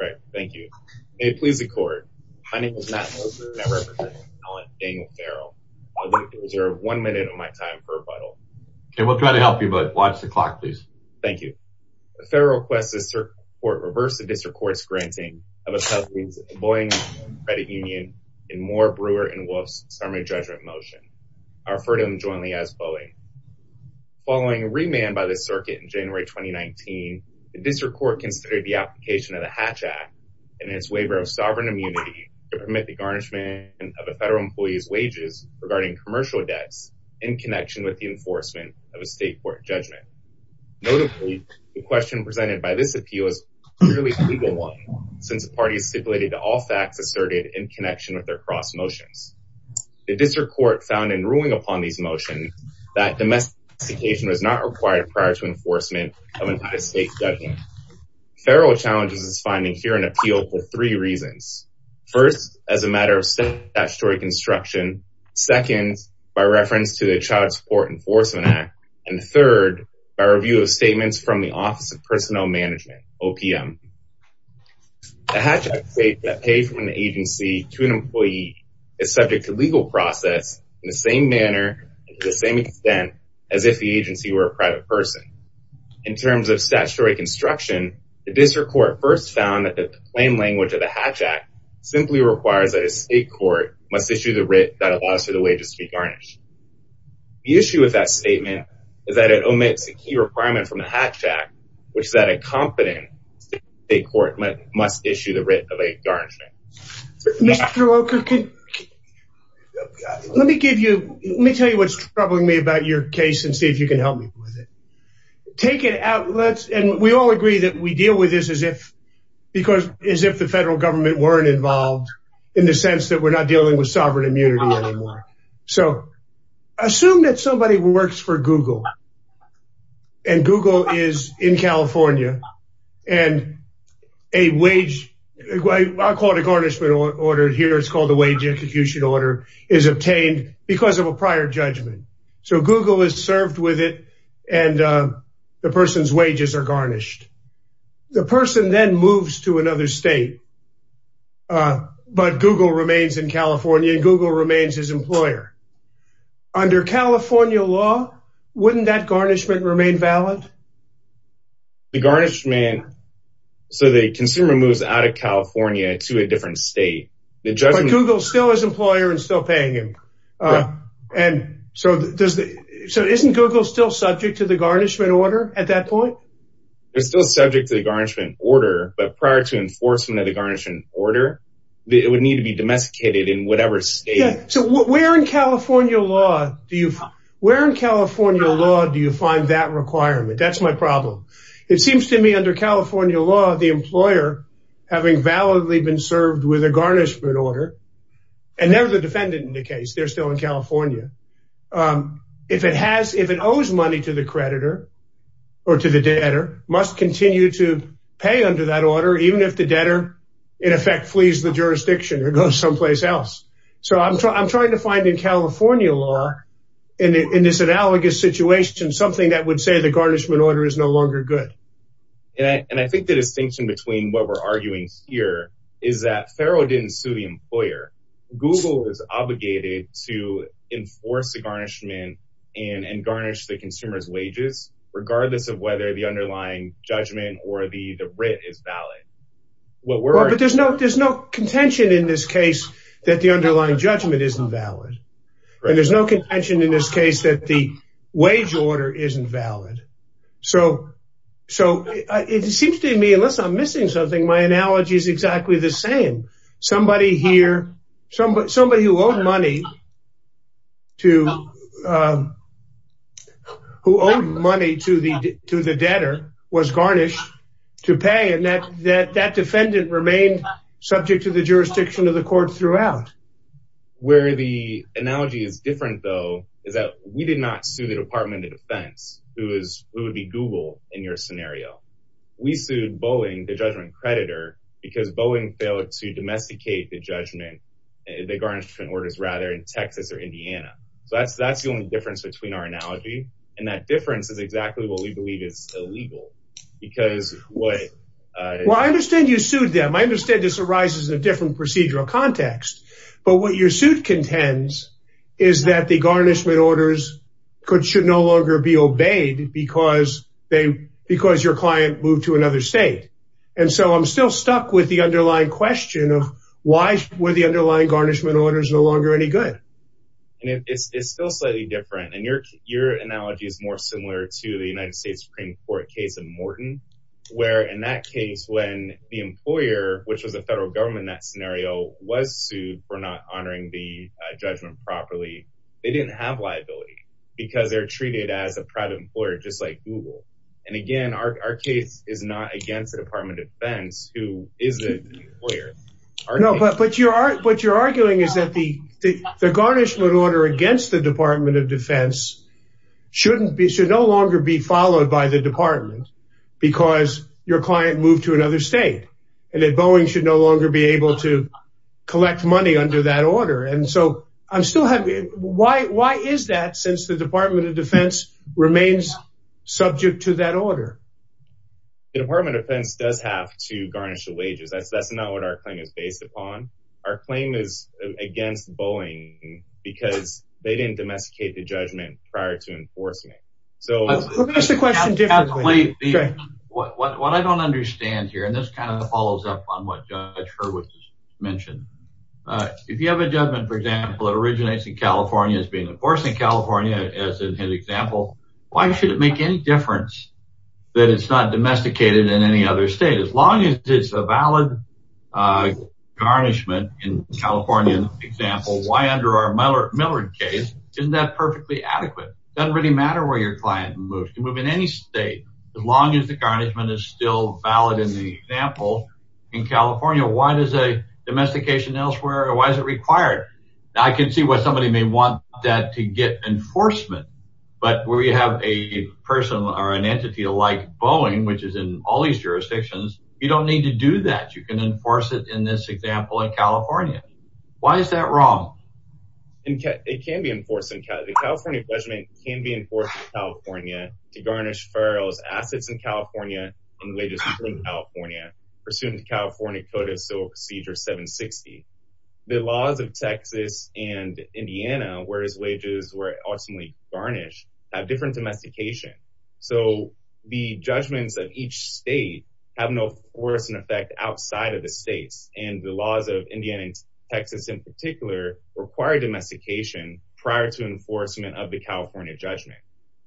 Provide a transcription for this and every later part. Right, thank you. May it please the court. My name is Matt Moser and I represent Daniel Farrell. I'd like to reserve one minute of my time for rebuttal. Okay, we'll try to help you but watch the clock please. Thank you. The federal request the circuit court reverse the district court's granting of employees Boeing Credit Union in Moore, Brewer, and Wolf's summary judgment motion. I refer to them jointly as Boeing. Following a remand by the circuit in January 2019, the district court considered the application of the Hatch Act and its waiver of sovereign immunity to permit the garnishment of a federal employee's wages regarding commercial debts in connection with the enforcement of a state court judgment. Notably, the question presented by this appeal is clearly a legal one since the parties stipulated all facts asserted in connection with their cross motions. The district court found in ruling upon these motions that domestication was not required prior to enforcement of an entire state judgment. Federal challenges is finding here an appeal for three reasons. First, as a matter of statutory construction. Second, by reference to the Child Support Enforcement Act. And third, by review of statements from the Office of Personnel Management, OPM. The Hatch Act states that pay from an agency to an employee is subject to legal process in the same manner to the same extent as if the agency were a private person. In terms of statutory construction, the district court first found that the plain language of the Hatch Act simply requires that a state court must issue the writ that allows for the wages to be garnished. The issue with that statement is that it omits a key requirement from the Hatch Act, which is that a competent state court must issue the writ of a garnishment. Mr. Walker, let me give you, let me tell you what's troubling me about your case and see if you can help me with it. Take it out, let's, and we all agree that we deal with this as if, because as if the federal government weren't involved in the sense that we're not dealing with sovereign immunity anymore. So assume that somebody works for Google. And Google is in here, it's called the wage execution order is obtained because of a prior judgment. So Google is served with it. And the person's wages are garnished. The person then moves to another state. But Google remains in California, Google remains his employer. Under California law, wouldn't that garnishment remain valid? The garnishment, so the consumer moves out of California to a different state, the judgment, Google still is employer and still paying him. And so does the, so isn't Google still subject to the garnishment order at that point? They're still subject to the garnishment order. But prior to enforcement of the garnishment order, it would need to be domesticated in whatever state. So where in California law, do you, where in California law, do you find that requirement? That's my problem. It seems to me under California law, the employer, having validly been served with a garnishment order, and never the defendant in the case, they're still in California. If it has, if it owes money to the creditor, or to the debtor must continue to pay under that order, even if the debtor, in effect, flees the jurisdiction or goes someplace else. So I'm trying to find in California law, in this analogous situation, something that would say the garnishment order is no longer good. And I think the distinction between what we're arguing here is that Farrell didn't sue the employer, Google is obligated to enforce the garnishment and garnish the consumer's wages, regardless of whether the underlying judgment or the the writ is valid. Well, there's no there's no contention in this case, that the underlying judgment isn't valid. And there's no contention in this case that the wage order isn't valid. So, so it seems to me, unless I'm missing something, my analogy is exactly the same. Somebody here, somebody who owed money to who owed money to the to the debtor was garnished to pay and that that that defendant remained subject to the jurisdiction of the court throughout. Where the analogy is different, though, is that we did not sue the Department of Defense, who is who would be Google in your scenario. We sued Boeing, the judgment creditor, because Boeing failed to domesticate the judgment, the garnishment orders rather in Texas or Indiana. So that's that's the only difference between our analogy. And that difference is exactly what we understand. This arises in a different procedural context. But what your suit contends, is that the garnishment orders could should no longer be obeyed because they because your client moved to another state. And so I'm still stuck with the underlying question of why were the underlying garnishment orders are no longer any good. And it's still slightly different. And your your analogy is more similar to the United States Supreme Court case of Morton, where in that case, when the employer, which was the federal government, that scenario was sued for not honoring the judgment properly. They didn't have liability, because they're treated as a private employer, just like Google. And again, our case is not against the Department of Defense, who is the lawyer? No, but but you are what you're arguing is that the the garnishment order against the Department of Defense shouldn't be should no longer be followed by the department, because your client moved to another state, and that Boeing should no longer be able to collect money under that order. And so I'm still happy. Why? Why is that since the Department of Defense remains subject to that order? Department of Defense does have to garnish the wages. That's that's not what our claim is based upon. Our claim is against Boeing, because they didn't domesticate judgment prior to enforcement. So what I don't understand here, and this kind of follows up on what I mentioned, if you have a judgment, for example, that originates in California is being enforced in California, as an example, why should it make any difference that it's not domesticated in any other state as long as it's a valid garnishment in California example, why under Miller case, isn't that perfectly adequate, doesn't really matter where your client moves to move in any state, as long as the garnishment is still valid in the example, in California, why does a domestication elsewhere? Why is it required? I can see what somebody may want that to get enforcement. But we have a person or an entity like Boeing, which is in all these jurisdictions, you don't need to do that you can enforce it in this example in California. Why is that wrong? And it can be enforced in California judgment can be enforced in California to garnish ferals assets in California, and wages in California, pursuant to California Code of Civil Procedure 760. The laws of Texas and Indiana, whereas wages were ultimately garnished have different domestication. So the judgments of each state have no force and effect outside of the states and the laws of Indiana, Texas in particular, require domestication prior to enforcement of the California judgment.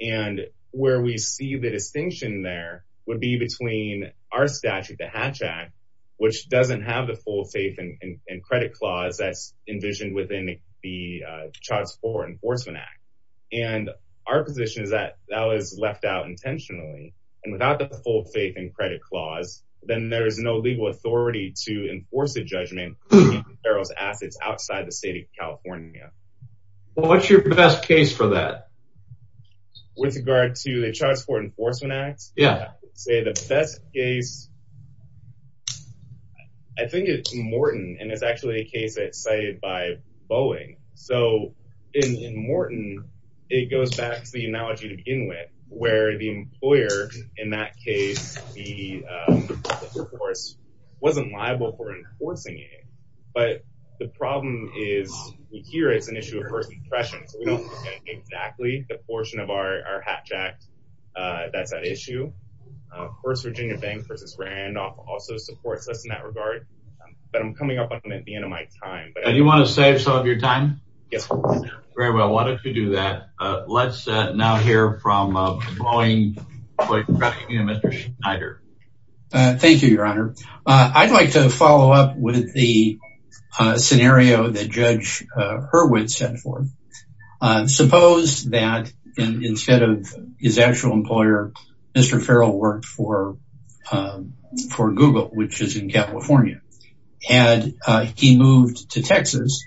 And where we see the distinction there would be between our statute, the Hatch Act, which doesn't have the full faith and credit clause that's envisioned within the Child Support Enforcement Act. And our position is that that was left out and without the full faith and credit clause, then there is no legal authority to enforce the judgment ferals assets outside the state of California. What's your best case for that? With regard to the Child Support Enforcement Act? Yeah, say the best case. I think it's Morton and it's actually a case that cited by Boeing. So in Morton, it goes back to the employer. In that case, the force wasn't liable for enforcing it. But the problem is, we hear it's an issue of first impression. So we don't know exactly the portion of our Hatch Act that's at issue. Of course, Virginia Bank versus Randolph also supports us in that regard. But I'm coming up on it at the end of my time. And you want to save some of your time? Yes. Very well, why don't we do that? Let's now hear from Boeing employee Mr. Schneider. Thank you, Your Honor. I'd like to follow up with the scenario that Judge Hurwitz set forth. Suppose that instead of his actual employer, Mr. Ferrell worked for Google, which is in California. Had he moved to Texas,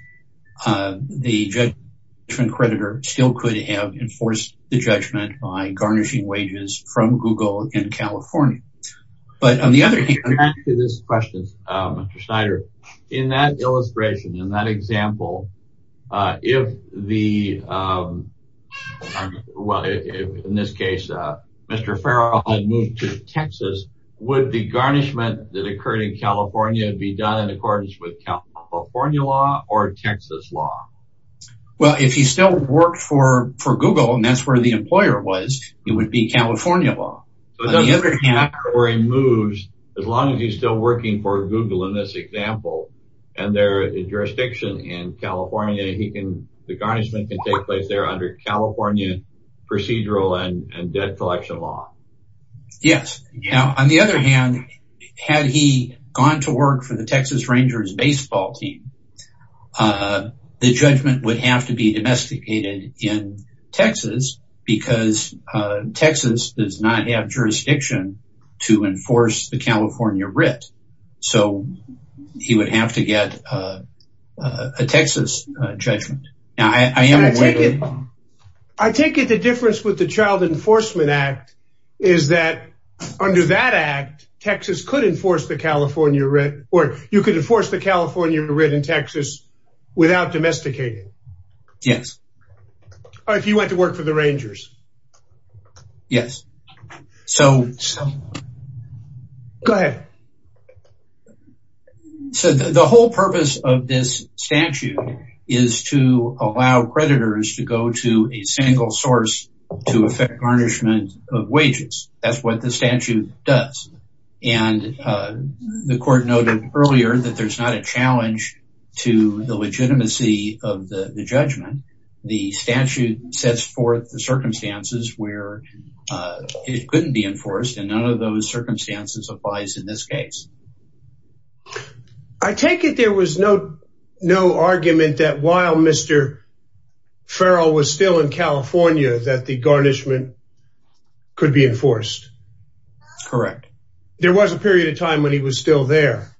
the judgment creditor still could have enforced the judgment by garnishing wages from Google in California. But on the other hand... Back to this question, Mr. Schneider. In that illustration, in that example, if the, well, in this case, Mr. Ferrell had moved to Texas, would the garnishment that occurred in California be done in accordance with California law or Texas law? Well, if he still worked for Google, and that's where the employer was, it would be California law. On the other hand... So it doesn't matter where he moves, as long as he's still working for Google in this example, and their jurisdiction in California, he can, the garnishment can take place there under California procedural and debt collection law. Yes. Now, on the other hand, had he gone to work for the Texas Rangers baseball team, the judgment would have to be domesticated in Texas, because Texas does not have jurisdiction to enforce the California writ. So he would have to get a Texas judgment. Now, I am... I take it the difference with the Child Enforcement Act, is that under that act, Texas could enforce the California writ, or you could enforce the California writ in Texas without domesticating? Yes. Or if you went to work for the Rangers? Yes. So... Go ahead. So the whole purpose of this statute is to allow creditors to go to a single source to effect garnishment of wages. That's what the statute does. And the court noted earlier that there's not a challenge to the legitimacy of the judgment. The statute sets forth the circumstances where it couldn't be enforced, and none of those Mr. Farrell was still in California, that the garnishment could be enforced. Correct. There was a period of time when he was still there.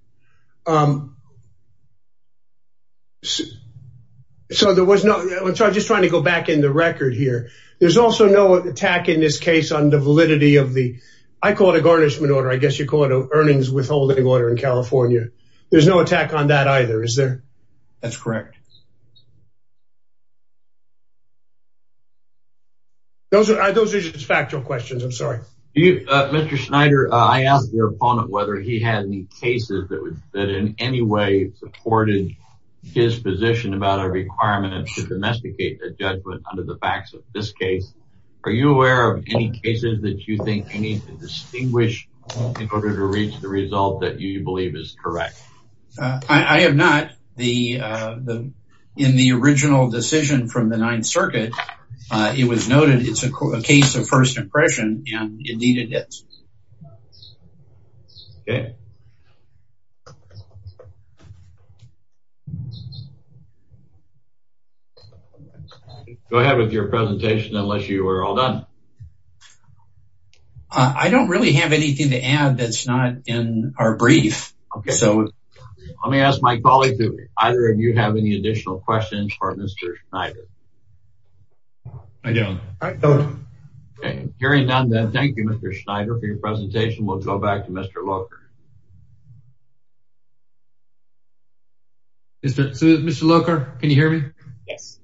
So there was no... I'm just trying to go back in the record here. There's also no attack in this case on the validity of the... I call it a garnishment order. I guess you call it an earnings withholding order in California. There's no attack on that either, is there? That's correct. Those are just factual questions. I'm sorry. Mr. Schneider, I asked your opponent whether he had any cases that in any way supported his position about a requirement to domesticate the judgment under the facts of this case. Are you aware of any cases that you think you need to distinguish in order to reach the result that you believe is correct? I have not. In the original decision from the Ninth Circuit, it was noted it's a case of first impression, and indeed it is. Okay. Go ahead with your presentation unless you are all done. I don't really have anything to add that's not in our brief. Okay, so let me ask my colleague, do either of you have any additional questions for Mr. Schneider? I don't. Carrying on then, thank you, Mr. Schneider, for your presentation. We'll go back to Mr. Locher. Mr. Locher, can you hear me? Yes.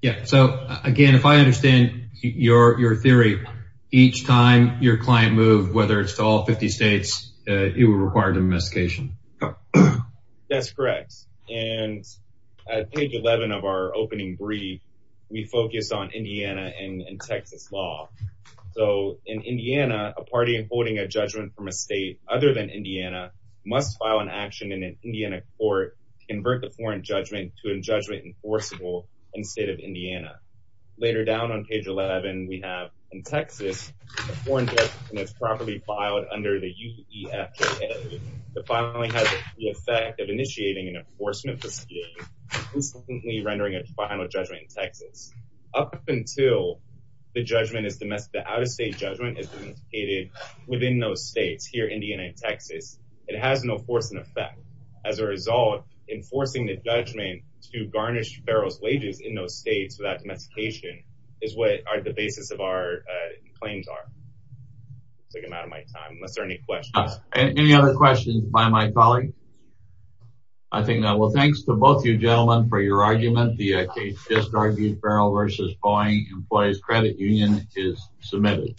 Yeah, so again, if I understand your theory, each time your client moved, whether it's to all 50 or 50, it's a different jurisdiction. That's correct. And at page 11 of our opening brief, we focus on Indiana and Texas law. So in Indiana, a party holding a judgment from a state other than Indiana must file an action in an Indiana court to convert the foreign judgment to a judgment enforceable in the state of Indiana. Later down on page 11, we have in Texas, the foreign judgment is properly filed under the UEFJA. The filing has the effect of initiating an enforcement proceeding, instantly rendering a final judgment in Texas. Up until the judgment is domestic, the out-of-state judgment is indicated within those states, here, Indiana and Texas, it has no force and effect. As a result, enforcing the judgment to garnish federal wages in those is what the basis of our claims are. I'm out of my time, unless there are any questions. Any other questions by my colleague? I think not. Well, thanks to both you gentlemen for your argument. The case just argued, Feral v. Boeing Employees Credit Union is submitted.